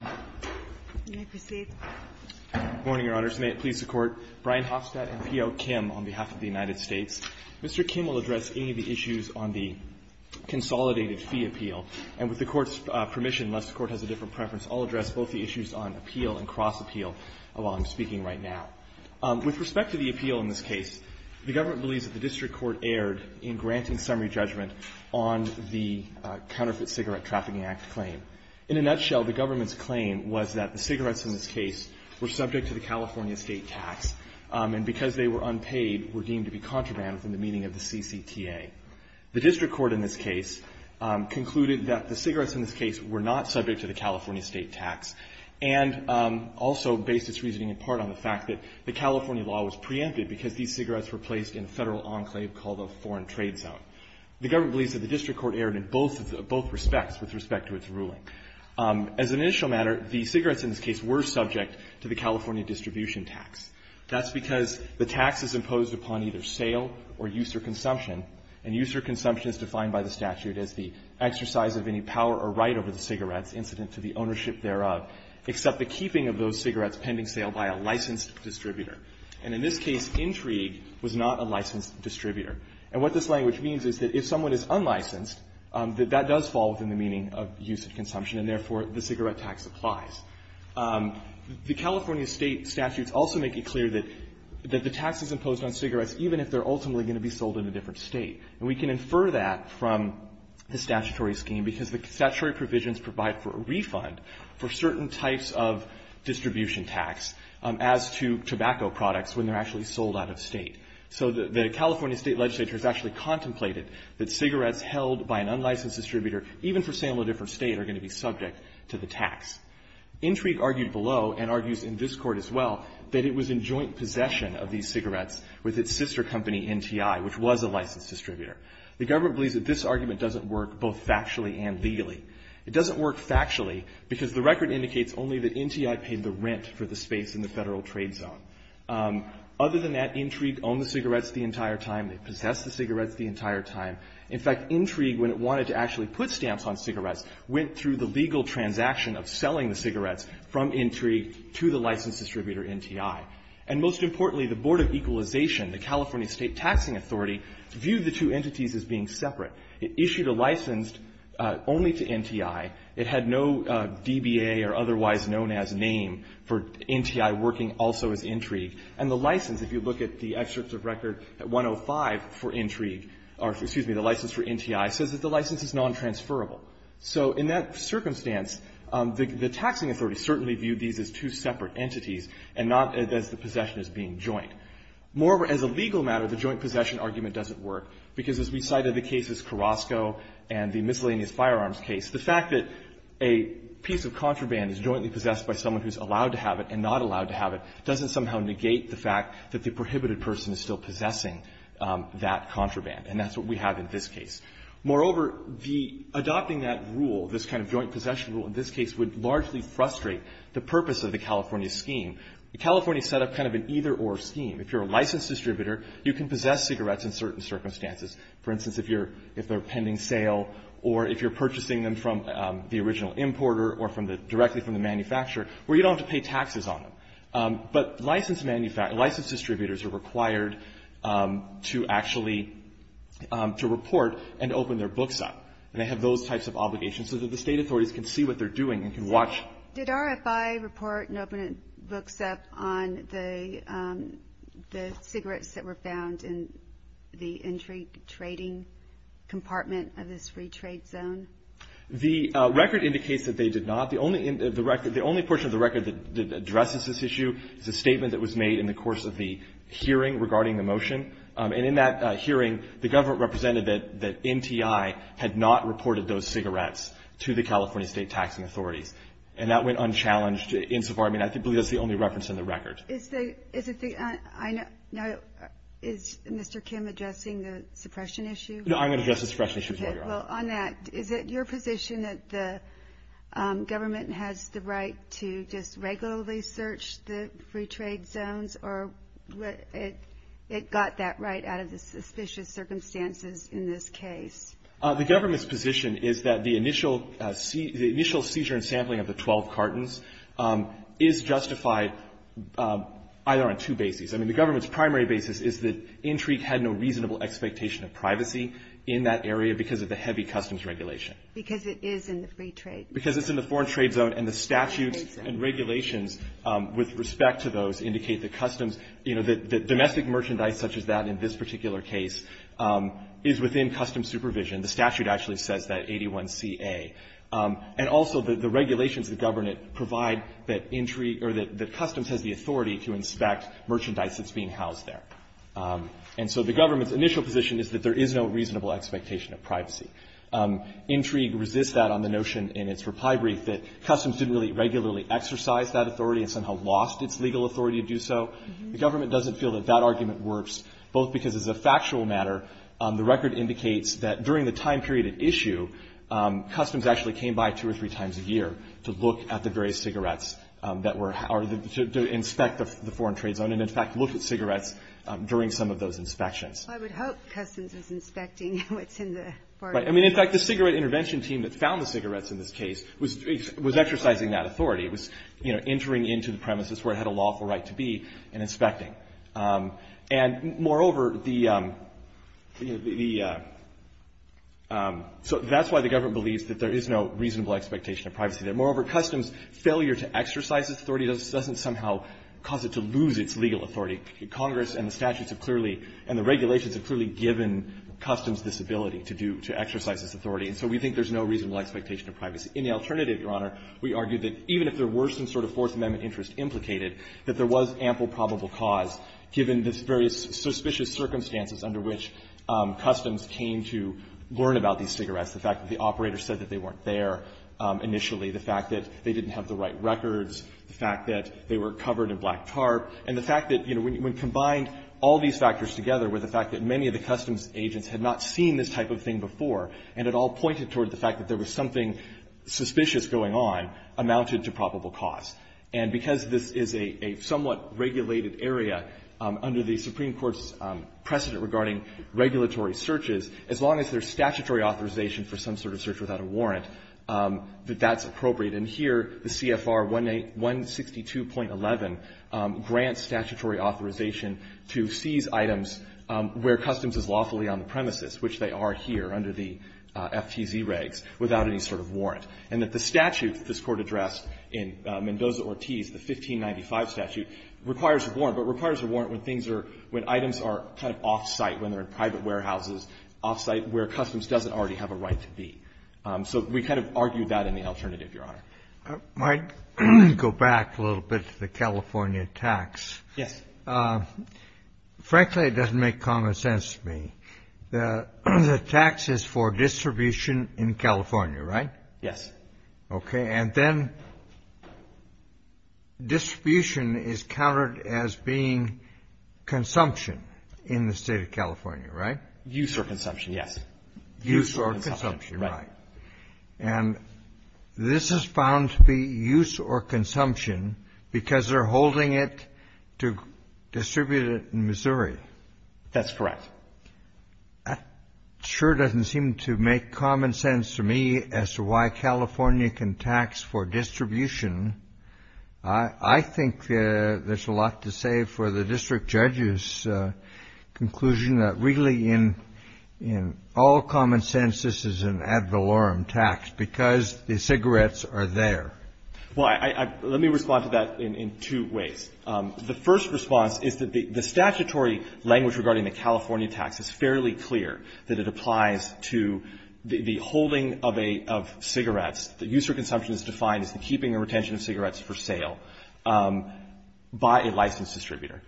Good morning, Your Honors. May it please the Court, Brian Hofstad and P.O. Kim on behalf of the United States. Mr. Kim will address any of the issues on the Consolidated Fee Appeal, and with the Court's permission, unless the Court has a different preference, I'll address both the issues on appeal and cross-appeal while I'm speaking right now. With respect to the appeal in this case, the Government believes that the District Court erred in granting summary judgment on the Counterfeit Cigarette Trafficking Act claim. In a nutshell, the Government's claim was that the cigarettes in this case were subject to the California state tax, and because they were unpaid, were deemed to be contraband within the meaning of the CCTA. The District Court, in this case, concluded that the cigarettes in this case were not subject to the California state tax, and also based its reasoning in part on the fact that the California law was preempted because these cigarettes were placed in a Federal enclave called a foreign trade zone. The Government believes that the District Court respects, with respect to its ruling. As an initial matter, the cigarettes in this case were subject to the California distribution tax. That's because the tax is imposed upon either sale or use or consumption, and use or consumption is defined by the statute as the exercise of any power or right over the cigarettes incident to the ownership thereof, except the keeping of those cigarettes pending sale by a licensed distributor. And in this case, Intrigue was not a licensed distributor. And what this language means is that if someone is unlicensed, that that does fall within the meaning of use and consumption, and therefore, the cigarette tax applies. The California state statutes also make it clear that the tax is imposed on cigarettes even if they're ultimately going to be sold in a different State. And we can infer that from the statutory scheme, because the statutory provisions provide for a refund for certain types of distribution tax as to tobacco products when they're actually sold out of State. So the California State legislature has actually contemplated that cigarettes held by an unlicensed distributor, even for sale in a different State, are going to be subject to the tax. Intrigue argued below, and argues in this Court as well, that it was in joint possession of these cigarettes with its sister company, NTI, which was a licensed distributor. The government believes that this argument doesn't work both factually and legally. It doesn't work factually, because the record indicates only that NTI paid the rent for the space in the Federal trade zone. Other than that, Intrigue owned the cigarettes the entire time. They In fact, Intrigue, when it wanted to actually put stamps on cigarettes, went through the legal transaction of selling the cigarettes from Intrigue to the licensed distributor, NTI. And most importantly, the Board of Equalization, the California State Taxing Authority, viewed the two entities as being separate. It issued a license only to NTI. It had no DBA or otherwise known as name for NTI working also as Intrigue. And the license, if you look at the excerpts of record at 105 for Intrigue, or excuse me, the license for NTI, says that the license is nontransferable. So in that circumstance, the taxing authority certainly viewed these as two separate entities and not as the possession as being joint. More as a legal matter, the joint possession argument doesn't work, because as we cited the cases Carrasco and the miscellaneous firearms case, the fact that a piece of contraband is jointly possessed by someone who's allowed to have it and not allowed to have it doesn't somehow negate the fact that the prohibited person is still possessing that contraband. And that's what we have in this case. Moreover, the adopting that rule, this kind of joint possession rule in this case, would largely frustrate the purpose of the California scheme. California set up kind of an either-or scheme. If you're a licensed distributor, you can possess cigarettes in certain circumstances. For instance, if you're – if they're pending sale or if you're purchasing them from the original importer or from the – directly from the manufacturer, where you don't have to pay taxes on them. But licensed manufacturers – licensed distributors are required to actually – to report and open their books up. And they have those types of obligations so that the state authorities can see what they're doing and can watch. Did RFI report and open books up on the – the cigarettes that were found in the entry trading compartment of this free trade zone? The record indicates that they did not. The only – the record – the only portion of the record that addresses this issue is a statement that was made in the course of the hearing regarding the motion. And in that hearing, the government represented that NTI had not reported those cigarettes to the California state taxing authorities. And that went unchallenged insofar – I mean, I believe that's the only reference in the record. Is the – is it the – I know – now, is Mr. Kim addressing the suppression issue? No, I'm going to address the suppression issue before you, Your Honor. Okay. Well, on that, is it your position that the government has the right to just – it got that right out of the suspicious circumstances in this case? The government's position is that the initial seizure and sampling of the 12 cartons is justified either on two bases. I mean, the government's primary basis is that intrigue had no reasonable expectation of privacy in that area because of the heavy customs regulation. Because it is in the free trade zone. Because it's in the foreign trade zone. And the statutes and regulations with respect to those indicate that customs – you know, that domestic merchandise such as that in this particular case is within customs supervision. The statute actually says that, 81CA. And also, the regulations that govern it provide that intrigue – or that customs has the authority to inspect merchandise that's being housed there. And so the government's initial position is that there is no reasonable expectation of privacy. Intrigue resists that on the notion in its reply brief that customs didn't really regularly exercise that authority and somehow lost its legal authority to do so. The government doesn't feel that that argument works, both because as a factual matter, the record indicates that during the time period at issue, customs actually came by two or three times a year to look at the various cigarettes that were – or to inspect the foreign trade zone. And, in fact, looked at cigarettes during some of those inspections. I would hope customs is inspecting what's in the foreign trade zone. Right. I mean, in fact, the cigarette intervention team that found the cigarettes in this case was exercising that authority. It was, you know, entering into the premises where it had a lawful right to be and inspecting. And, moreover, the – so that's why the government believes that there is no reasonable expectation of privacy there. Moreover, customs' failure to exercise its authority doesn't somehow cause it to lose its legal authority. Congress and the statutes have clearly – and the regulations have clearly given customs this ability to do – to exercise this authority. And so we think there's no reasonable expectation of privacy. In the alternative, Your Honor, we argue that even if there were some sort of Fourth Amendment interest implicated, that there was ample probable cause, given the various suspicious circumstances under which customs came to learn about these cigarettes, the fact that the operator said that they weren't there initially, the fact that they didn't have the right records, the fact that they were covered in black tarp, and the fact that, you know, when combined all these factors together with the fact that many of the customs agents had not seen this type of thing before and had all pointed toward the fact that there was something suspicious going on amounted to probable cause. And because this is a somewhat regulated area under the Supreme Court's precedent regarding regulatory searches, as long as there's statutory authorization for some sort of search without a warrant, that that's appropriate. And here the CFR 162.11 grants statutory authorization to seize items where customs is lawfully on the premises, which they are here under the FTZ regs, without any sort of warrant, and that the statute that this Court addressed in Mendoza-Ortiz, the 1595 statute, requires a warrant, but requires a warrant when things are – when items are kind of off-site, when they're in private warehouses, off-site, where customs doesn't already have a right to be. So we kind of argued that in the alternative, Your Honor. Kennedy. I might go back a little bit to the California tax. Roberts. Yes. Frankly, it doesn't make common sense to me that the tax is for distribution in California, right? Yes. Okay. And then distribution is counted as being consumption in the State of California, right? Use or consumption, yes. Use or consumption, right. And this is found to be use or consumption because they're holding it to distribute it in Missouri. That's correct. That sure doesn't seem to make common sense to me as to why California can tax for distribution. I think there's a lot to say for the district judge's conclusion that really in all common sense, this is an ad valorem tax because the cigarettes are there. Well, I – let me respond to that in two ways. The first response is that the statutory language regarding the California tax is fairly clear, that it applies to the holding of a – of cigarettes. The use or consumption is defined as the keeping or retention of cigarettes for sale by a licensed distributor.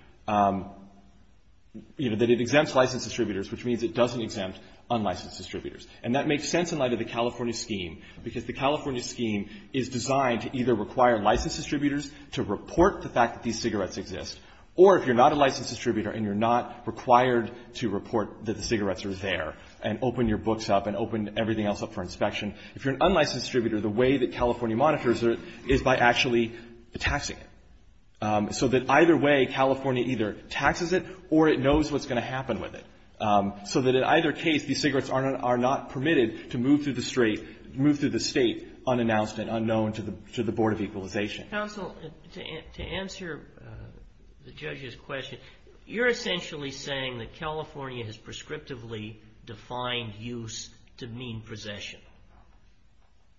You know, that it exempts licensed distributors, which means it doesn't exempt unlicensed distributors. And that makes sense in light of the California scheme because the California scheme is designed to either require licensed distributors to report the fact that these cigarettes exist, or if you're not a licensed distributor and you're not required to report that the cigarettes are there and open your books up and open everything else up for inspection, if you're an unlicensed distributor, the way that California monitors it is by actually taxing it. So that either way, California either taxes it or it knows what's going to happen with it. So that in either case, these cigarettes are not permitted to move through the State unannounced and unknown to the Board of Equalization. Counsel, to answer the judge's question, you're essentially saying that California has prescriptively defined use to mean possession?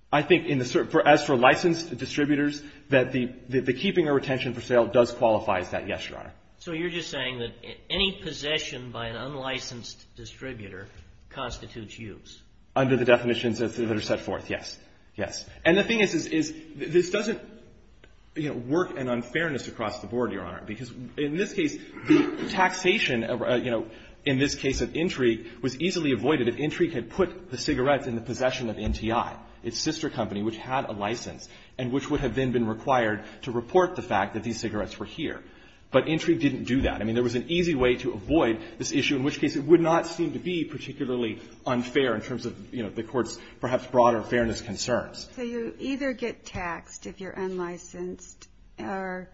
I think in the – as for licensed distributors, that the keeping or retention for sale does qualify as that, yes, Your Honor. So you're just saying that any possession by an unlicensed distributor constitutes use? Under the definitions that are set forth, yes. Yes. And the thing is, is this doesn't work in unfairness across the board, Your Honor, because in this case, the taxation, you know, in this case of Intrigue, was easily avoided if Intrigue had put the cigarettes in the possession of NTI, its sister company, which had a license, and which would have then been required to report the fact that these cigarettes were here. But Intrigue didn't do that. I mean, there was an easy way to avoid this issue, in which case it would not seem to be particularly unfair in terms of, you know, the Court's perhaps broader fairness concerns. So you either get taxed if you're unlicensed, or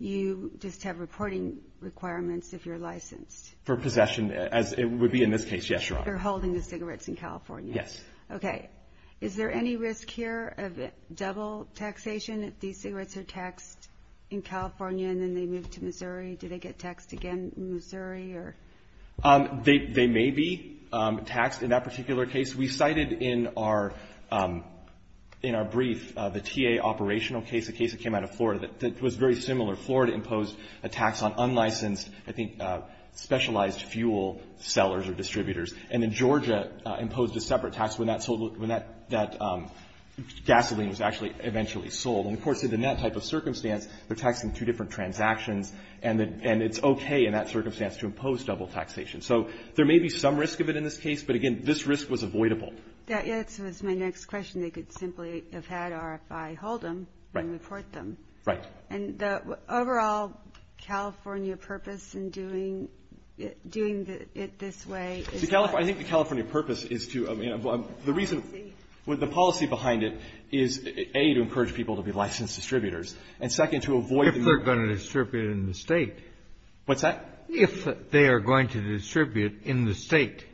you just have reporting requirements if you're licensed? For possession, as it would be in this case, yes, Your Honor. For holding the cigarettes in California. Yes. Okay. Is there any risk here of double taxation if these cigarettes are taxed in California and then they move to Missouri? Do they get taxed again in Missouri, or? They may be taxed in that particular case. We cited in our brief the TA operational case, a case that came out of Florida that was very similar. Florida imposed a tax on unlicensed, I think, specialized fuel sellers or distributors. And then Georgia imposed a separate tax when that sold the ‑‑ when that gasoline was actually eventually sold. And of course, in that type of circumstance, they're taxing two different transactions, and it's okay in that circumstance to impose double taxation. So there may be some risk of it in this case. But again, this risk was avoidable. That answers my next question. They could simply have had RFI hold them and report them. Right. And the overall California purpose in doing it this way is to ‑‑ I think the California purpose is to ‑‑ the reason ‑‑ the policy behind it is, A, to encourage people to be licensed distributors, and, second, to avoid ‑‑ If they're going to distribute in the State. What's that? If they are going to distribute in the State,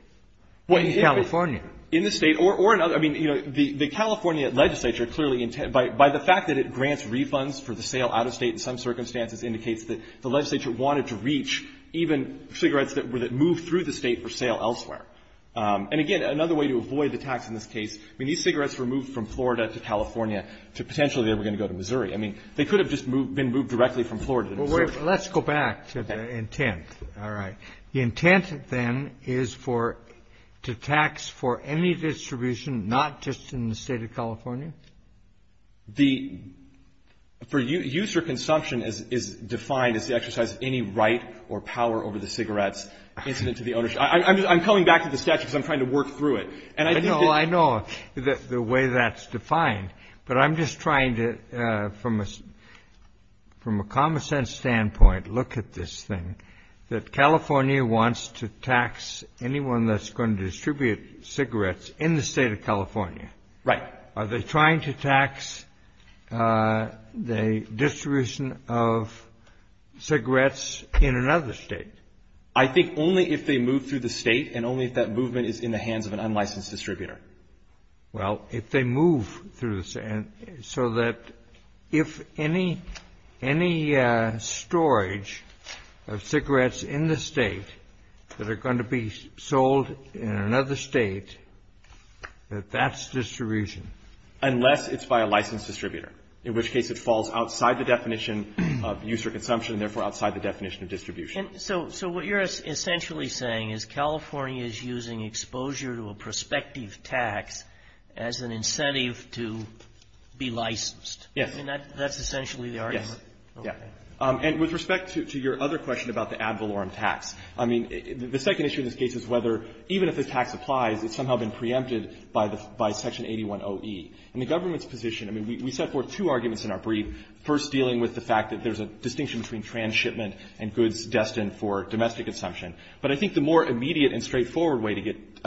in California. In the State or in other ‑‑ I mean, you know, the California legislature, clearly, by the fact that it grants refunds for the sale out of State in some circumstances, indicates that the legislature wanted to reach even cigarettes that moved through the State for sale elsewhere. And again, another way to avoid the tax in this case, I mean, these cigarettes were moved from Florida to California to potentially they were going to go to Missouri. I mean, they could have just been moved directly from Florida to Missouri. Well, let's go back to the intent. All right. The intent, then, is for ‑‑ to tax for any distribution, not just in the State of California? The ‑‑ for use or consumption is defined as the exercise of any right or power over the cigarette's incident to the owner. I'm coming back to the statute because I'm trying to work through it. And I think that ‑‑ from a common sense standpoint, look at this thing, that California wants to tax anyone that's going to distribute cigarettes in the State of California. Right. Are they trying to tax the distribution of cigarettes in another State? I think only if they move through the State and only if that movement is in the hands of an unlicensed distributor. Well, if they move through the ‑‑ so that if any storage of cigarettes in the State that are going to be sold in another State, that that's distribution. Unless it's by a licensed distributor, in which case it falls outside the definition of use or consumption and therefore outside the definition of distribution. And so what you're essentially saying is California is using exposure to a prospective tax as an incentive to be licensed. Yes. I mean, that's essentially the argument? Yes. Okay. And with respect to your other question about the ad valorem tax, I mean, the second issue in this case is whether, even if the tax applies, it's somehow been preempted by the ‑‑ by Section 810E. In the government's position, I mean, we set forth two arguments in our brief, first dealing with the fact that there's a distinction between transshipment and goods destined for domestic consumption. But I think the more immediate and straightforward way to get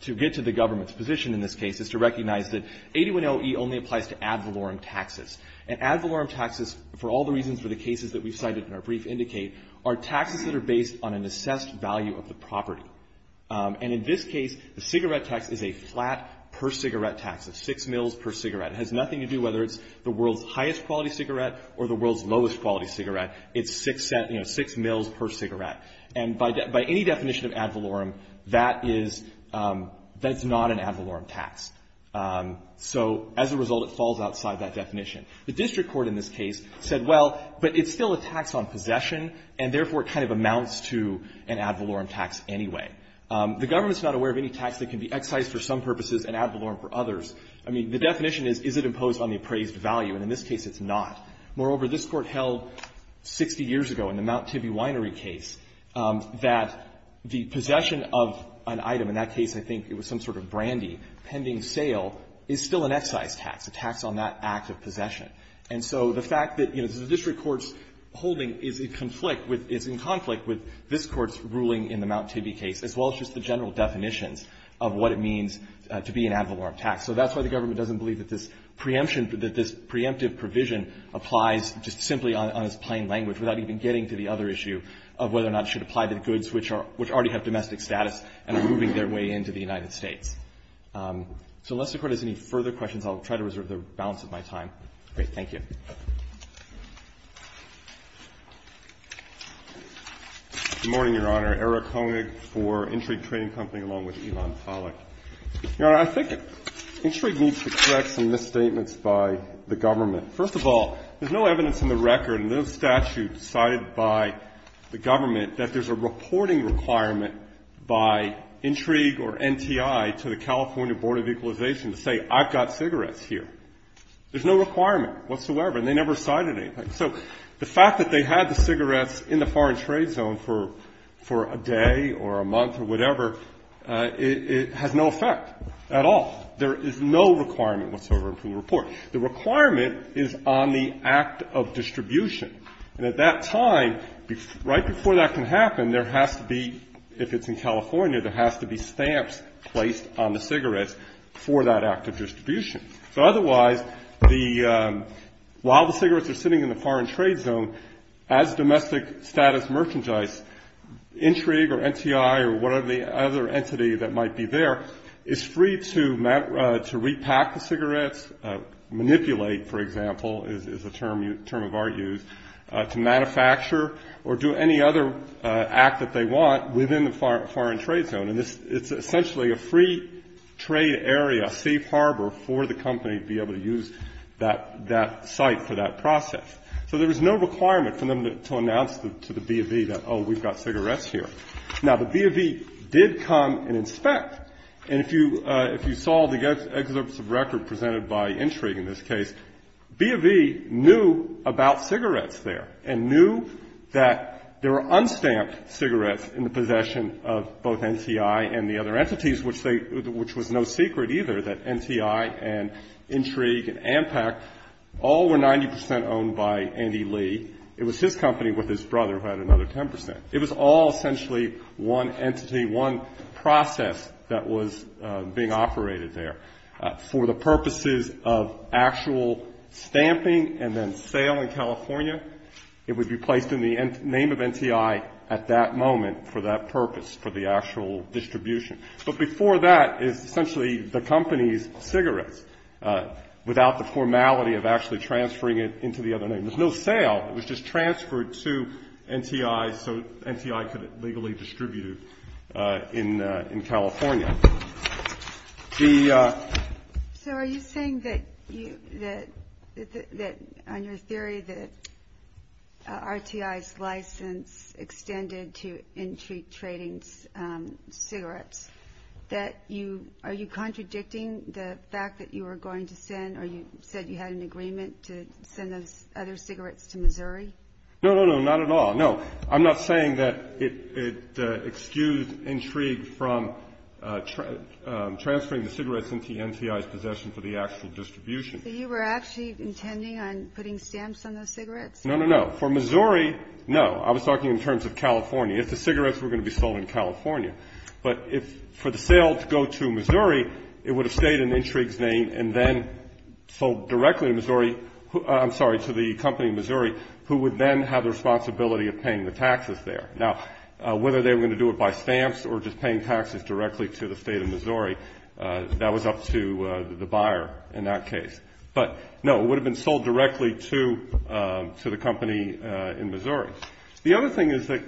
to the government's position in this case is to recognize that 810E only applies to ad valorem taxes. And ad valorem taxes, for all the reasons for the cases that we've cited in our brief indicate, are taxes that are based on an assessed value of the property. And in this case, the cigarette tax is a flat per cigarette tax, a 6 mils per cigarette. It has nothing to do whether it's the world's highest quality cigarette or the world's lowest quality cigarette. It's 6 mils per cigarette. And by any definition of ad valorem, that is ‑‑ that's not an ad valorem tax. So as a result, it falls outside that definition. The district court in this case said, well, but it's still a tax on possession, and therefore, it kind of amounts to an ad valorem tax anyway. The government's not aware of any tax that can be excised for some purposes and ad valorem for others. I mean, the definition is, is it imposed on the appraised value? And in this case, it's not. Moreover, this Court held 60 years ago in the Mount Tibi Winery case that the possession of an item, in that case, I think it was some sort of brandy, pending sale, is still an excise tax, a tax on that act of possession. And so the fact that, you know, the district court's holding is in conflict with ‑‑ is in conflict with this Court's ruling in the Mount Tibi case, as well as just the general definitions of what it means to be an ad valorem tax. So that's why the government doesn't believe that this preemption, that this preemptive provision applies just simply on its plain language, without even getting to the other issue of whether or not it should apply to the goods which are ‑‑ which already have domestic status and are moving their way into the United States. So unless the Court has any further questions, I'll try to reserve the balance of my time. Great. Thank you. Eric Honig, for Intrigue Trading Company, along with Elon Pollack. Your Honor, I think Intrigue needs to correct some misstatements by the government. First of all, there's no evidence in the record in the statute cited by the government that there's a reporting requirement by Intrigue or NTI to the California Board of Equalization to say, I've got cigarettes here. There's no requirement whatsoever, and they never cited anything. So the fact that they had the cigarettes in the foreign trade zone for a day or a month or whatever, it has no effect at all. There is no requirement whatsoever in the report. The requirement is on the act of distribution, and at that time, right before that can happen, there has to be, if it's in California, there has to be stamps placed on the cigarettes for that act of distribution. So otherwise, the ‑‑ while the cigarettes are sitting in the foreign trade zone, as of the other entity that might be there, it's free to repack the cigarettes, manipulate, for example, is a term of our use, to manufacture or do any other act that they want within the foreign trade zone, and it's essentially a free trade area, a safe harbor for the company to be able to use that site for that process. So there was no requirement for them to announce to the BOV that, oh, we've got cigarettes here. Now, the BOV did come and inspect, and if you saw the excerpts of record presented by Intrigue in this case, BOV knew about cigarettes there and knew that there were unstamped cigarettes in the possession of both NCI and the other entities, which they ‑‑ which was no secret either that NCI and Intrigue and Ampac all were 90 percent owned by Andy Lee. It was his company with his brother who had another 10 percent. It was all essentially one entity, one process that was being operated there. For the purposes of actual stamping and then sale in California, it would be placed in the name of NCI at that moment for that purpose, for the actual distribution. But before that is essentially the company's cigarettes without the formality of actually transferring it into the other name. There's no sale. It was just transferred to NCI so NCI could legally distribute it in California. The ‑‑ So are you saying that you ‑‑ that on your theory that RTI's license extended to Intrigue Trading's cigarettes, that you ‑‑ are you contradicting the fact that you were going to send or you said you had an agreement to send those other cigarettes to Missouri? No, no, no. Not at all. No. I'm not saying that it excused Intrigue from transferring the cigarettes into NCI's possession for the actual distribution. So you were actually intending on putting stamps on those cigarettes? No, no, no. For Missouri, no. I was talking in terms of California. If the cigarettes were going to be sold in California. But if for the sale to go to Missouri, it would have stayed in Intrigue's name and then sold directly to Missouri, I'm sorry, to the company in Missouri who would then have the responsibility of paying the taxes there. Now whether they were going to do it by stamps or just paying taxes directly to the state of Missouri, that was up to the buyer in that case. But no, it would have been sold directly to the company in Missouri. The other thing is that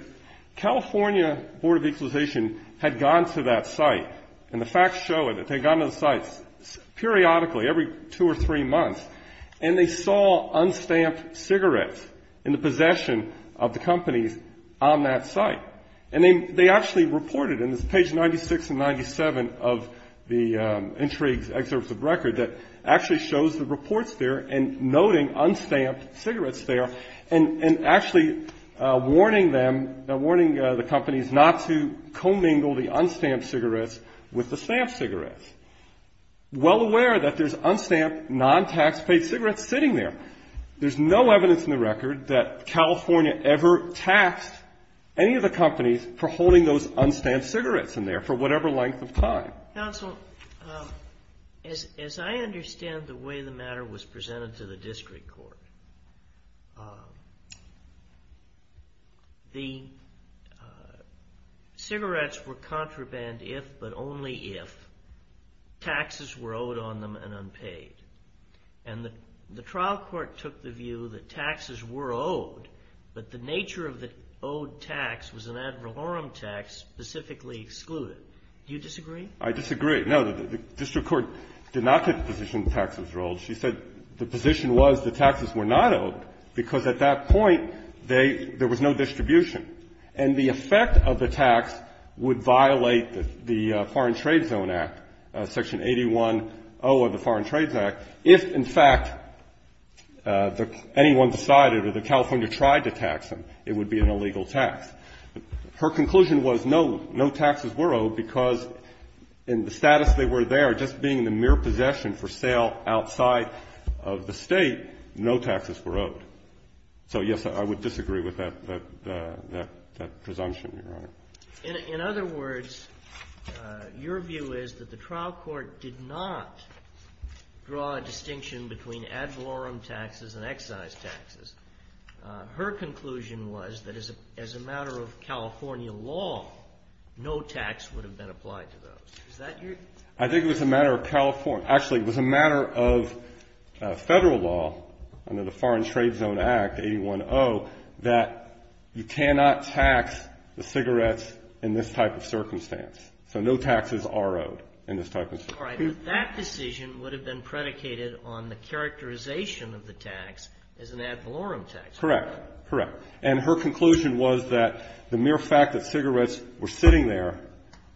California Board of Equalization had gone to that site, and the facts show it, that they had gone to the sites periodically, every two or three months, and they saw unstamped cigarettes in the possession of the companies on that site. And they actually reported in this page 96 and 97 of the Intrigue's excerpt of record that actually shows the reports there and noting unstamped cigarettes there, and actually warning them, warning the companies not to commingle the unstamped cigarettes with the stamped cigarettes. Well aware that there's unstamped, non-tax-paid cigarettes sitting there. There's no evidence in the record that California ever taxed any of the companies for holding those unstamped cigarettes in there for whatever length of time. Counsel, as I understand the way the matter was presented to the district court, the cigarettes were contraband if, but only if, taxes were owed on them and unpaid. And the trial court took the view that taxes were owed, but the nature of the owed tax was an ad valorem tax specifically excluded. Do you disagree? I disagree. No, the district court did not take the position that taxes were owed. She said the position was that taxes were not owed because at that point, they – there was no distribution. And the effect of the tax would violate the Foreign Trade Zone Act, Section 810 of the Foreign Trades Act, if in fact anyone decided or the California tried to tax them, it would be an illegal tax. Her conclusion was no, no taxes were owed because in the status they were there, just being the mere possession for sale outside of the state, no taxes were owed. So yes, I would disagree with that presumption, Your Honor. In other words, your view is that the trial court did not draw a distinction between ad valorem taxes and excise taxes. Her conclusion was that as a matter of California law, no tax would have been applied to those. Is that your – I think it was a matter of California – actually, it was a matter of federal law under the Foreign Trade Zone Act, 810, that you cannot tax the cigarettes in this type of circumstance. So no taxes are owed in this type of circumstance. All right. But that decision would have been predicated on the characterization of the tax as an ad valorem tax. Correct. Correct. And her conclusion was that the mere fact that cigarettes were sitting there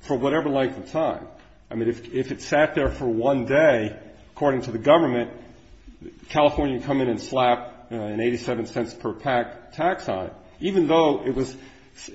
for whatever length of time, I mean, if it sat there for one day, according to the government, California would come in and slap an 87 cents per pack tax on it, even though it was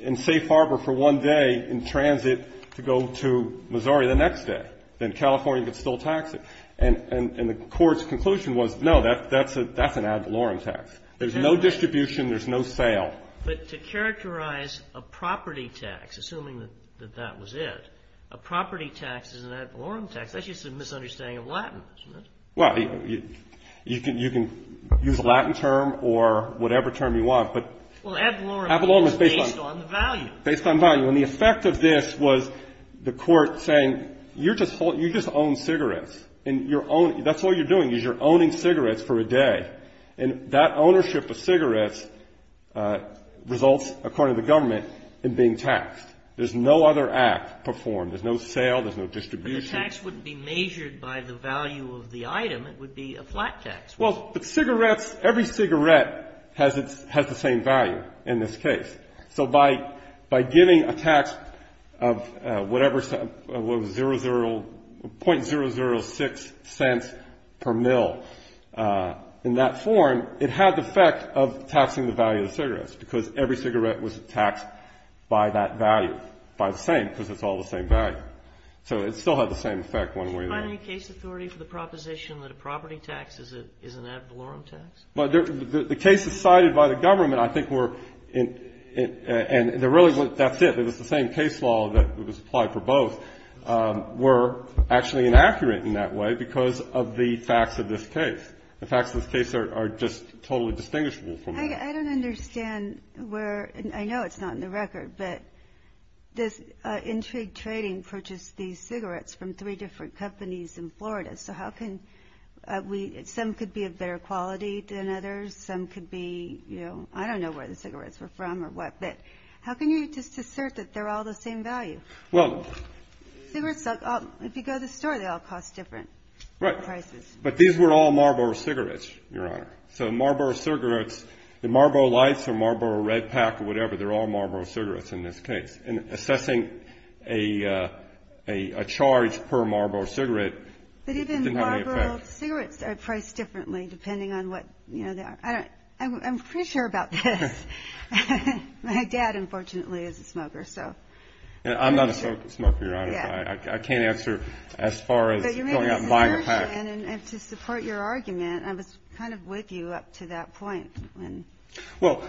in safe harbor for one day in transit to go to Missouri the next day. Then California could still tax it. And the Court's conclusion was, no, that's an ad valorem tax. There's no distribution. There's no sale. But to characterize a property tax, assuming that that was it, a property tax is an ad valorem tax. That's just a misunderstanding of Latin, isn't it? Well, you can use a Latin term or whatever term you want, but ad valorem is based on the value. Based on value. And the effect of this was the Court saying, you're just holding you just own cigarettes. And you're owning, that's all you're doing is you're owning cigarettes for a day. And that ownership of cigarettes results, according to the government, in being taxed. There's no other act performed. There's no sale. There's no distribution. But the tax wouldn't be measured by the value of the item. It would be a flat tax. Well, but cigarettes, every cigarette has its, has the same value in this case. So by giving a tax of whatever, what was 0.006 cents per mil in that form, it had the effect of taxing the value of the cigarettes, because every cigarette was taxed by that value. By the same, because it's all the same value. So it still had the same effect one way or another. Is there any case authority for the proposition that a property tax is an ad valorem tax? But the cases cited by the government, I think, were, and they're really, that's it. It was the same case law that was applied for both, were actually inaccurate in that way because of the facts of this case. The facts of this case are just totally distinguishable from the rest. I don't understand where, and I know it's not in the record, but this Intrigue Trading purchased these cigarettes from three different companies in Florida. So how can we, some could be of better quality than others. Some could be, you know, I don't know where the cigarettes were from or what, but how can you just assert that they're all the same value? Well. Cigarettes, if you go to the store, they all cost different prices. Right. But these were all Marlboro cigarettes, Your Honor. So Marlboro cigarettes, the Marlboro Lights or Marlboro Red Pack or whatever, they're all Marlboro cigarettes in this case. And assessing a charge per Marlboro cigarette, it didn't have any effect. But even Marlboro cigarettes are priced differently depending on what, you know, I don't, I'm pretty sure about this. My dad, unfortunately, is a smoker, so. I'm not a smoker, Your Honor. I can't answer as far as going out and buying a pack. But you made a assertion, and to support your argument, I was kind of with you up to that point. Well,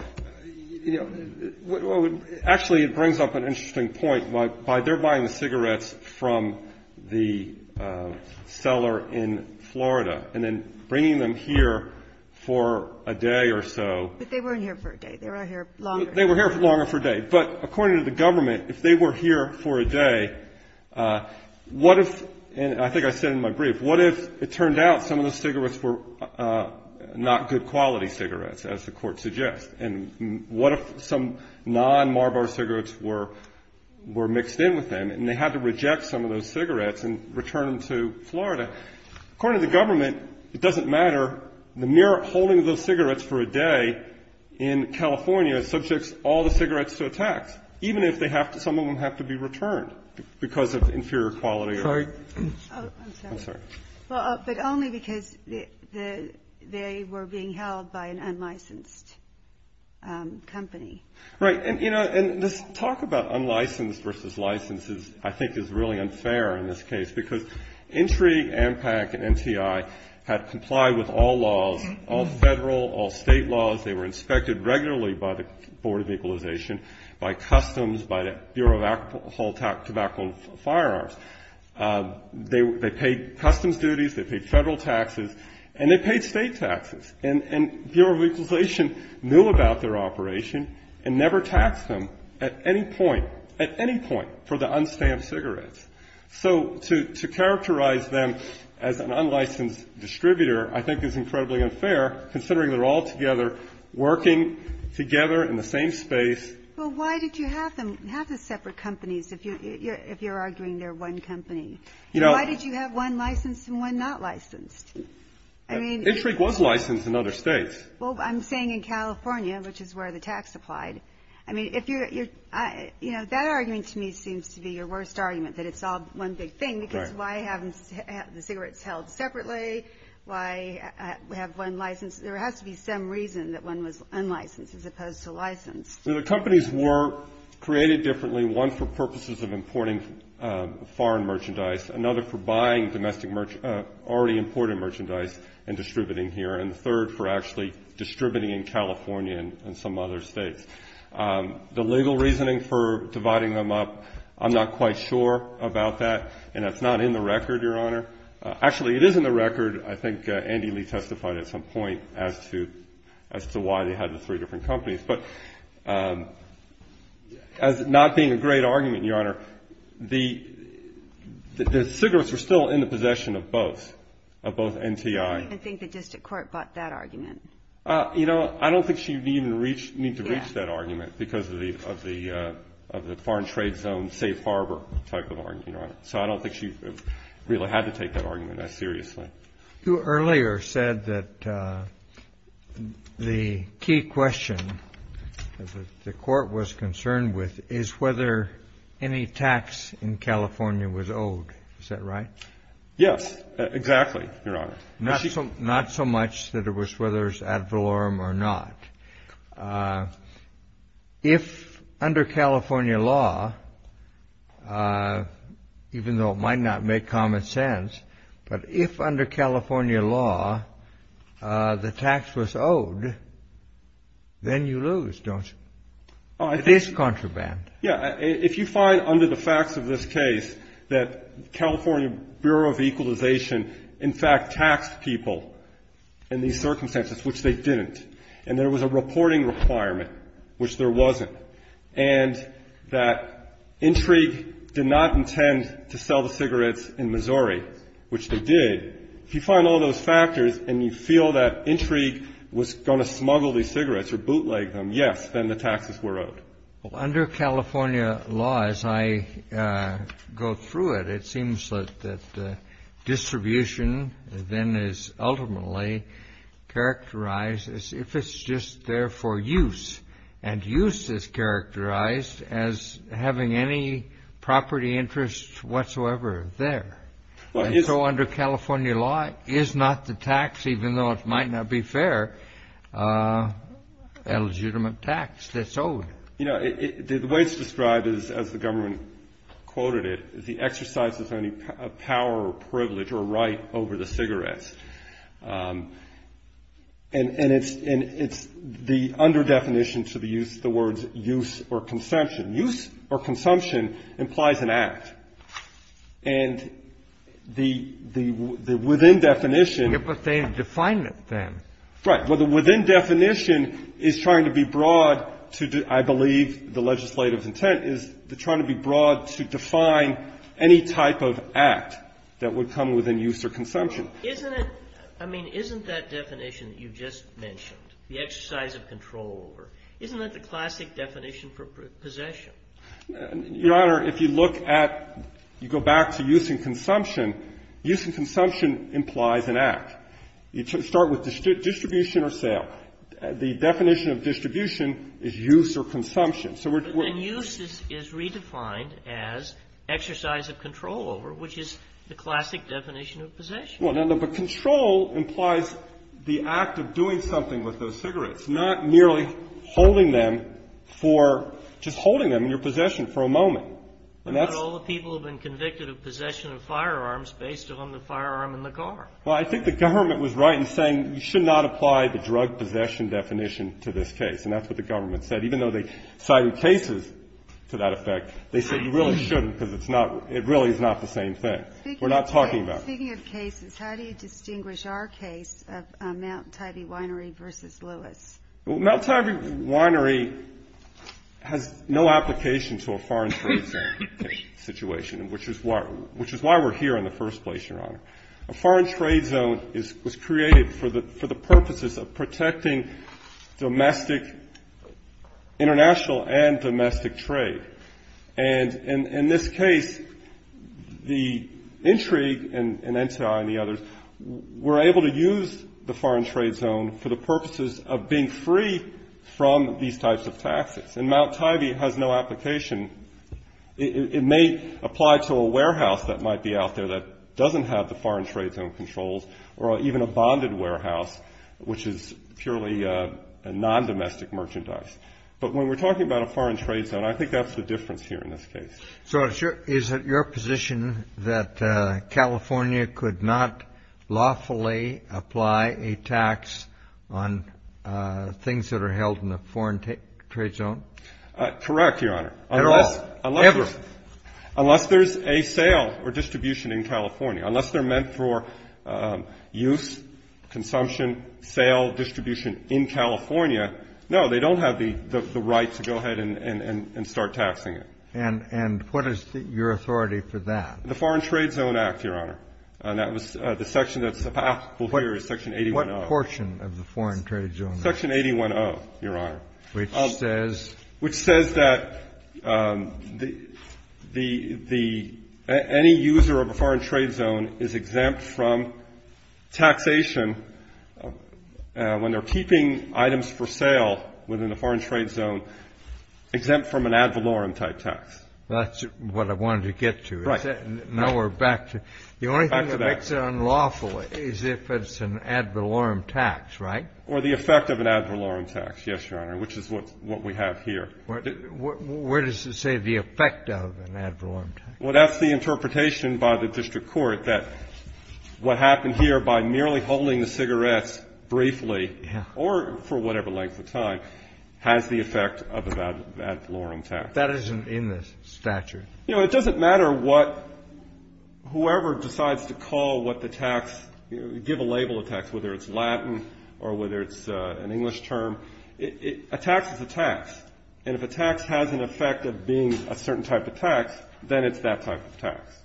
you know, actually, it brings up an interesting point. By their buying the cigarettes from the seller in Florida and then bringing them here for a day or so. But they weren't here for a day. They were here longer. They were here longer for a day. But according to the government, if they were here for a day, what if, and I think I said in my brief, what if it turned out some of the cigarettes, as the Court suggests, and what if some non-Marlboro cigarettes were mixed in with them, and they had to reject some of those cigarettes and return them to Florida. According to the government, it doesn't matter. The mere holding of those cigarettes for a day in California subjects all the cigarettes to a tax, even if they have to, some of them have to be returned because of inferior quality. I'm sorry. I'm sorry. Well, but only because they were being held by an unlicensed company. Right. And, you know, and this talk about unlicensed versus licensed, I think, is really unfair in this case. Because Intrigue, ANPAC, and NCI had complied with all laws, all federal, all state laws. They were inspected regularly by the Board of Equalization, by Customs, by the Bureau of Alcohol, Tobacco, and Firearms. They paid customs duties, they paid federal taxes, and they paid state taxes. And Bureau of Equalization knew about their operation and never taxed them at any point, at any point, for the unstamped cigarettes. So to characterize them as an unlicensed distributor, I think, is incredibly unfair, considering they're all together working together in the same space. Well, why did you have them, have the separate companies, if you're arguing they're one company? You know. Why did you have one licensed and one not licensed? I mean. Intrigue was licensed in other states. Well, I'm saying in California, which is where the tax applied. I mean, if you're, you know, that argument to me seems to be your worst argument, that it's all one big thing. Right. Because why have the cigarettes held separately? Why have one licensed? There has to be some reason that one was unlicensed as opposed to licensed. The companies were created differently, one for purposes of importing foreign merchandise, another for buying domestic, already imported merchandise and distributing here, and the third for actually distributing in California and some other states. The legal reasoning for dividing them up, I'm not quite sure about that, and it's not in the record, Your Honor. Actually, it is in the record. I think Andy Lee testified at some point as to why they had the three different companies. But as it not being a great argument, Your Honor, the cigarettes were still in the possession of both, of both NTI. I didn't think the district court bought that argument. You know, I don't think she would even need to reach that argument because of the foreign trade zone safe harbor type of argument. So I don't think she really had to take that argument as seriously. You earlier said that the key question the court was concerned with is whether any tax in California was owed. Is that right? Yes, exactly, Your Honor. Not so much that it was whether it was ad valorem or not. If under California law, even though it might not make common sense, but if under California law the tax was owed, then you lose, don't you? It is contraband. Yeah. If you find under the facts of this case that California Bureau of Equalization, in fact, taxed people in these circumstances, which they didn't, and there was a reporting requirement, which there wasn't, and that Intrigue did not intend to sell the cigarettes in Missouri, which they did, if you find all those factors and you feel that Intrigue was going to smuggle these cigarettes or bootleg them, yes, then the taxes were owed. Under California law, as I go through it, it seems that distribution then is ultimately characterized as if it's just there for use. And use is characterized as having any property interest whatsoever there. So under California law, is not the tax, even though it might not be fair, a legitimate tax that's owed? You know, the way it's described is, as the government quoted it, the exercise of any power or privilege or right over the cigarettes. And it's the under-definition to the use, the words use or consumption. Use or consumption implies an act. And the within definition. But they define it then. Right. Within definition is trying to be broad to, I believe, the legislative intent is trying to be broad to define any type of act that would come within use or consumption. Isn't it, I mean, isn't that definition that you just mentioned, the exercise of control over, isn't that the classic definition for possession? Your Honor, if you look at, you go back to use and consumption, use and consumption implies an act. You start with distribution or sale. The definition of distribution is use or consumption. So we're. And use is redefined as exercise of control over, which is the classic definition of possession. Well, no, but control implies the act of doing something with those cigarettes, not merely holding them for, just holding them in your possession for a moment. And that's. But all the people have been convicted of possession of firearms based on the firearm in the car. Well, I think the government was right in saying you should not apply the drug possession definition to this case. And that's what the government said, even though they cited cases to that effect. They said you really shouldn't because it's not. It really is not the same thing we're not talking about. Speaking of cases, how do you distinguish our case of Mount Tybee Winery versus Lewis? Mount Tybee Winery has no application to a foreign trade situation, which is why, which is why we're here in the first place. A foreign trade zone was created for the purposes of protecting domestic, international and domestic trade. And in this case, the intrigue and the others were able to use the foreign trade zone for the purposes of being free from these types of taxes. And Mount Tybee has no application. It may apply to a warehouse that might be out there that doesn't have the foreign trade zone controls or even a bonded warehouse, which is purely a non-domestic merchandise. But when we're talking about a foreign trade zone, I think that's the difference here in this case. So is it your position that California could not lawfully apply a tax on things that are held in the foreign trade zone? Correct, Your Honor. At all? Ever? Unless there's a sale or distribution in California. Unless they're meant for use, consumption, sale, distribution in California. No, they don't have the right to go ahead and start taxing it. And what is your authority for that? The Foreign Trade Zone Act, Your Honor. And that was the section that's applicable here is Section 810. What portion of the Foreign Trade Zone Act? Section 810, Your Honor. Which says? Which says that any user of a foreign trade zone is exempt from taxation when they're keeping items for sale within the foreign trade zone, exempt from an ad valorem type tax. That's what I wanted to get to. Right. Now we're back to the only thing that makes it unlawful is if it's an ad valorem tax, right? Or the effect of an ad valorem tax, yes, Your Honor, which is what we have here. Where does it say the effect of an ad valorem tax? Well, that's the interpretation by the district court that what happened here by merely holding the cigarettes briefly or for whatever length of time has the effect of an ad valorem tax. That isn't in the statute. You know, it doesn't matter what whoever decides to call what the tax, give a label of tax, whether it's Latin or whether it's an English term. A tax is a tax. And if a tax has an effect of being a certain type of tax, then it's that type of tax.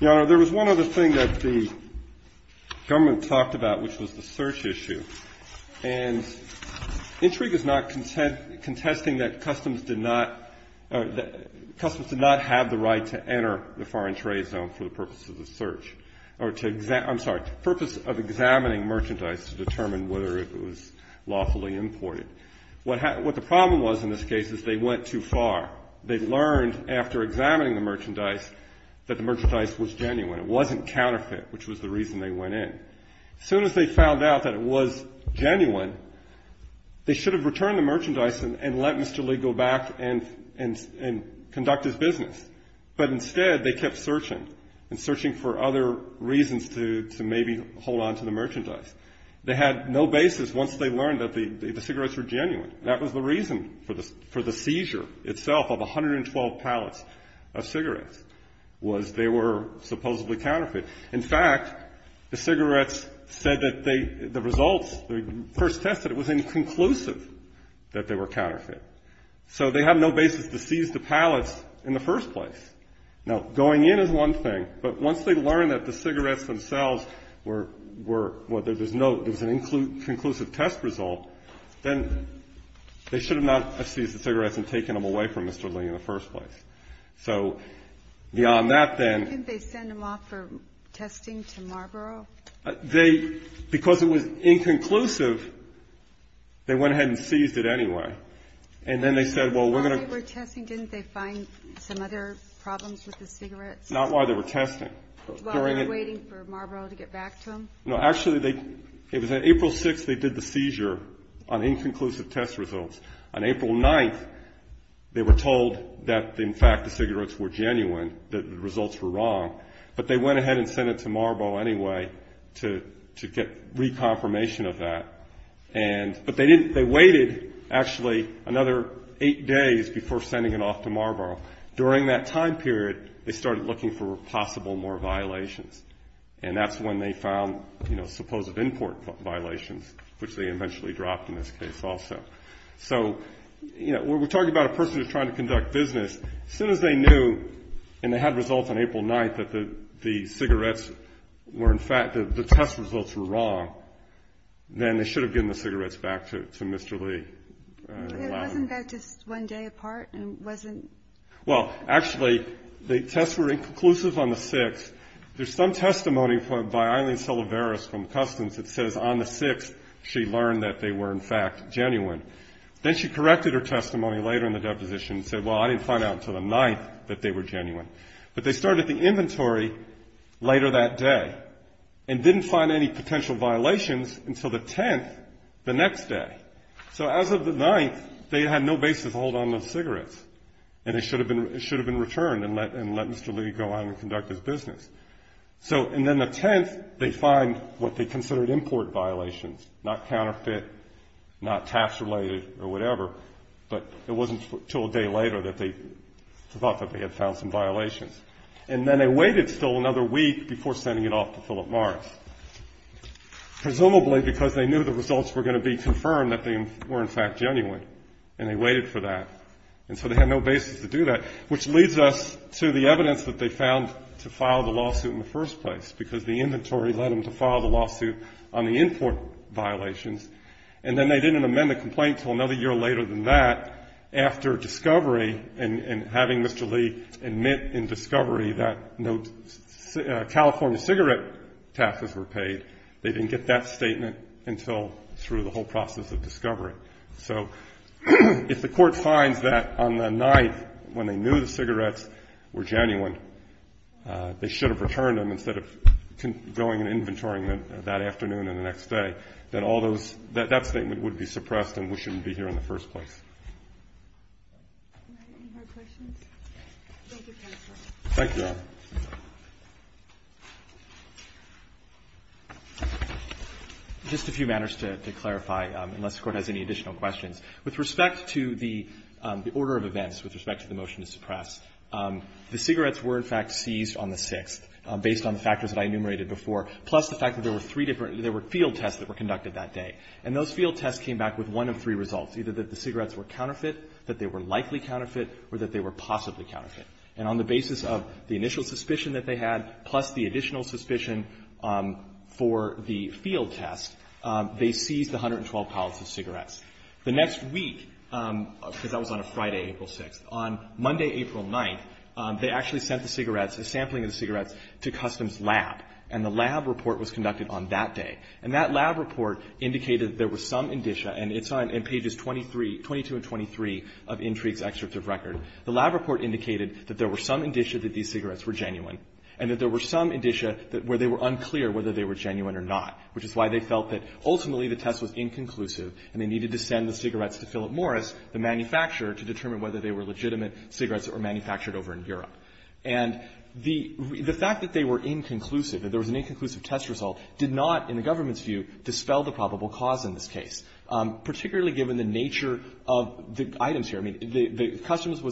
Your Honor, there was one other thing that the government talked about, which was the search issue. And intrigue is not contesting that customs did not have the right to enter the foreign trade zone for the purpose of the search. I'm sorry, the purpose of examining merchandise to determine whether it was lawfully imported. What the problem was in this case is they went too far. They learned after examining the merchandise that the merchandise was genuine. It wasn't counterfeit, which was the reason they went in. As soon as they found out that it was genuine, they should have returned the merchandise and let Mr. Lee go back and conduct his business. But instead, they kept searching and searching for other reasons to maybe hold on to the merchandise. They had no basis once they learned that the cigarettes were genuine. That was the reason for the seizure itself of 112 pallets of cigarettes was they were supposedly counterfeit. In fact, the cigarettes said that they, the results, the first test that it was inconclusive that they were counterfeit. So they have no basis to seize the pallets in the first place. Now, going in is one thing, but once they learned that the cigarettes themselves were, were, whether there's no, there was an inconclusive test result, then they should have not seized the cigarettes and taken them away from Mr. Lee in the first place. So beyond that, then... Couldn't they send them off for testing to Marlboro? They, because it was inconclusive, they went ahead and seized it anyway. And then they said, well, we're going to... While they were testing, didn't they find some other problems with the cigarettes? Not while they were testing. While they were waiting for Marlboro to get back to them? No, actually they, it was on April 6th they did the seizure on inconclusive test results. On April 9th, they were told that, in fact, the cigarettes were genuine, that the results were wrong. But they went ahead and sent it to Marlboro anyway to, to get reconfirmation of that. And, but they didn't, they waited actually another eight days before sending it off to Marlboro. During that time period, they started looking for possible more violations. And that's when they found, you know, supposed import violations, which they eventually dropped in this case also. So, you know, we're talking about a person who's trying to conduct business. As soon as they knew, and they had results on April 9th, that the, the cigarettes were, in fact, the test results were wrong, then they should have given the cigarettes back to, to Mr. Lee. It wasn't that just one day apart? It wasn't... Well, actually, the tests were inconclusive on the 6th. There's some testimony by Eileen Salaveras from Customs that says on the 6th, she learned that they were, in fact, genuine. Then she corrected her testimony later in the deposition and said, well, I didn't find out until the 9th that they were genuine. But they started the inventory later that day and didn't find any potential violations until the 10th, the next day. So as of the 9th, they had no basis to hold on those cigarettes. And it should have been, it should have been returned and let, and let Mr. Lee go on and conduct his business. So, and then the 10th, they find what they considered import violations, not counterfeit, not tax-related or whatever, but it wasn't until a day later that they thought that they had found some violations. And then they waited still another week before sending it off to Philip Morris, presumably because they knew the results were going to be confirmed that they were, in fact, genuine, and they waited for that. And so they had no basis to do that, which leads us to the evidence that they found to file the lawsuit in the first place, because the inventory led them to file the lawsuit on the import violations. And then they didn't amend the complaint until another year later than that. After discovery and having Mr. Lee admit in discovery that no California cigarette taxes were paid, they didn't get that statement until through the whole process of discovery. So if the Court finds that on the 9th, when they knew the cigarettes were genuine, they should have returned them instead of going and inventorying them that afternoon and the next day, that all those, that statement would be suppressed and we shouldn't be here in the first place. Thank you, Your Honor. Just a few matters to clarify, unless the Court has any additional questions. With respect to the order of events, with respect to the motion to suppress, the cigarettes were, in fact, seized on the 6th, based on the factors that I enumerated before, plus the fact that there were three different, there were field tests that were conducted that day, and those field tests came back with one of three results, either that the cigarettes were counterfeit, that they were likely counterfeit, or that they were possibly counterfeit. And on the basis of the initial suspicion that they had, plus the additional suspicion for the field test, they seized 112 pallets of cigarettes. The next week, because that was on a Friday, April 6th, on Monday, April 9th, they actually sent the cigarettes, a sampling of the cigarettes, to Customs Lab, and the lab report was conducted on that day. And that lab report indicated there was some indicia, and it's on pages 23, 22 and 23 of Intrigue's excerpt of record. The lab report indicated that there were some indicia that these cigarettes were genuine and that there were some indicia where they were unclear whether they were genuine or not, which is why they felt that ultimately the test was inconclusive and they needed to send the cigarettes to Philip Morris, the manufacturer, to determine whether they were legitimate cigarettes that were manufactured over in Europe. And the fact that they were inconclusive, that there was an inconclusive test result, did not, in the government's view, dispel the probable cause in this case, particularly given the nature of the items here. Customs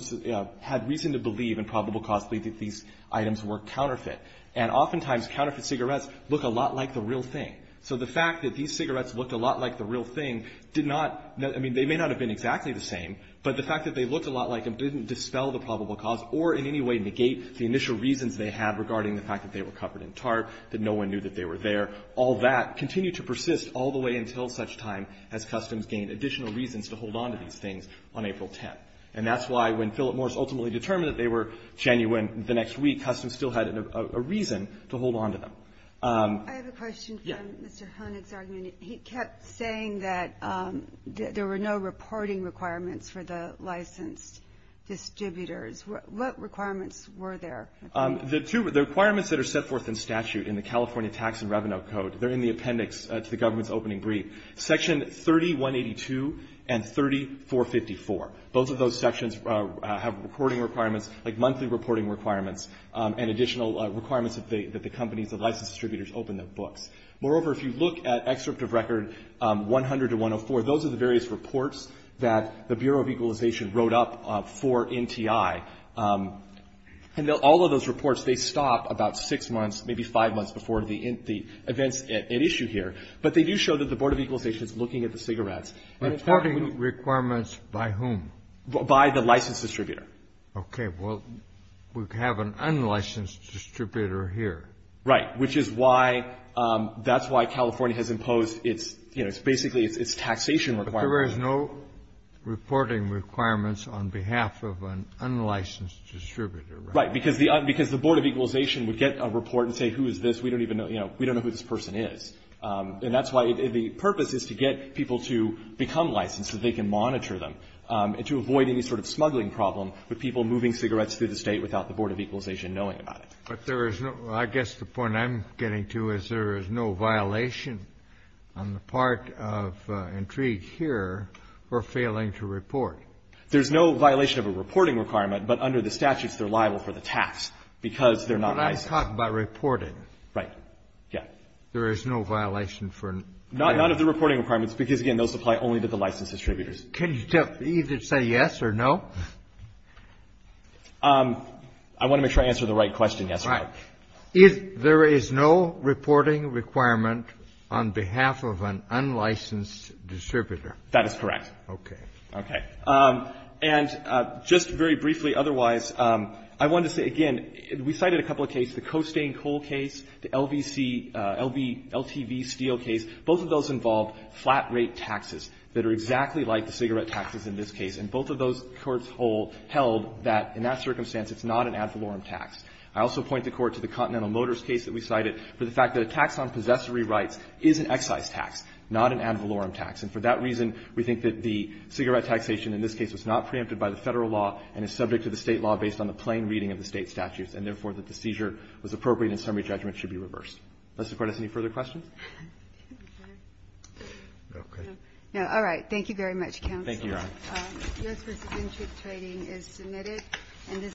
had reason to believe, in probable cause, that these items were counterfeit. And oftentimes counterfeit cigarettes look a lot like the real thing. So the fact that these cigarettes looked a lot like the real thing did not, they may not have been exactly the same, but the fact that they looked a lot like them didn't dispel the probable cause or in any way negate the initial reasons they had regarding the fact that they were covered in tarp, that no one knew that they were there. All that continued to persist all the way until such time as Customs gained additional reasons to hold on to these things on April 10th. And that's why when Philip Morris ultimately determined that they were genuine the next week, Customs still had a reason to hold on to them. I have a question from Mr. Honig's argument. He kept saying that there were no reporting requirements for the licensed distributors. What requirements were there? The two requirements that are set forth in statute in the California Tax and Revenue Code, they're in the appendix to the government's opening brief. Section 3182 and 3454, both of those sections have reporting requirements, like monthly reporting requirements and additional requirements that the companies, the licensed distributors open their books. Moreover, if you look at Excerpt of Record 100-104, those are the various reports that the Bureau of Equalization wrote up for NTI. And all of those reports, they stop about six months, maybe five months before the events at issue here. But they do show that the Board of Equalization is looking at the cigarettes. Reporting requirements by whom? By the licensed distributor. Okay. Well, we have an unlicensed distributor here. Right. Which is why, that's why California has imposed its, you know, it's basically its taxation requirement. But there is no reporting requirements on behalf of an unlicensed distributor, right? Right. Because the Board of Equalization would get a report and say, who is this? We don't even know, you know, we don't know who this person is. And that's why the purpose is to get people to become licensed so they can monitor them and to avoid any sort of smuggling problem with people moving cigarettes through the State without the Board of Equalization knowing about it. But there is no, I guess the point I'm getting to is there is no violation on the part of Intrigue here for failing to report. There's no violation of a reporting requirement, but under the statutes, they're liable for the tax because they're not licensed. Now, let's talk about reporting. Right. Yeah. There is no violation for? None of the reporting requirements because, again, those apply only to the licensed distributors. Can you just either say yes or no? I want to make sure I answer the right question, yes or no. Right. If there is no reporting requirement on behalf of an unlicensed distributor. That is correct. Okay. Okay. And just very briefly otherwise, I wanted to say, again, we cited a couple of cases the Costain-Cole case, the LTV-Steele case. Both of those involved flat rate taxes that are exactly like the cigarette taxes in this case. And both of those courts held that in that circumstance, it's not an ad valorem tax. I also point the Court to the Continental Motors case that we cited for the fact that a tax on possessory rights is an excise tax, not an ad valorem tax. And for that reason, we think that the cigarette taxation in this case was not preempted by the Federal law and is subject to the State law based on the plain reading of the State statutes and, therefore, that the seizure was appropriate and summary judgment should be reversed. Does the Court have any further questions? No. Okay. No. Thank you very much, Counsel. Thank you, Your Honor.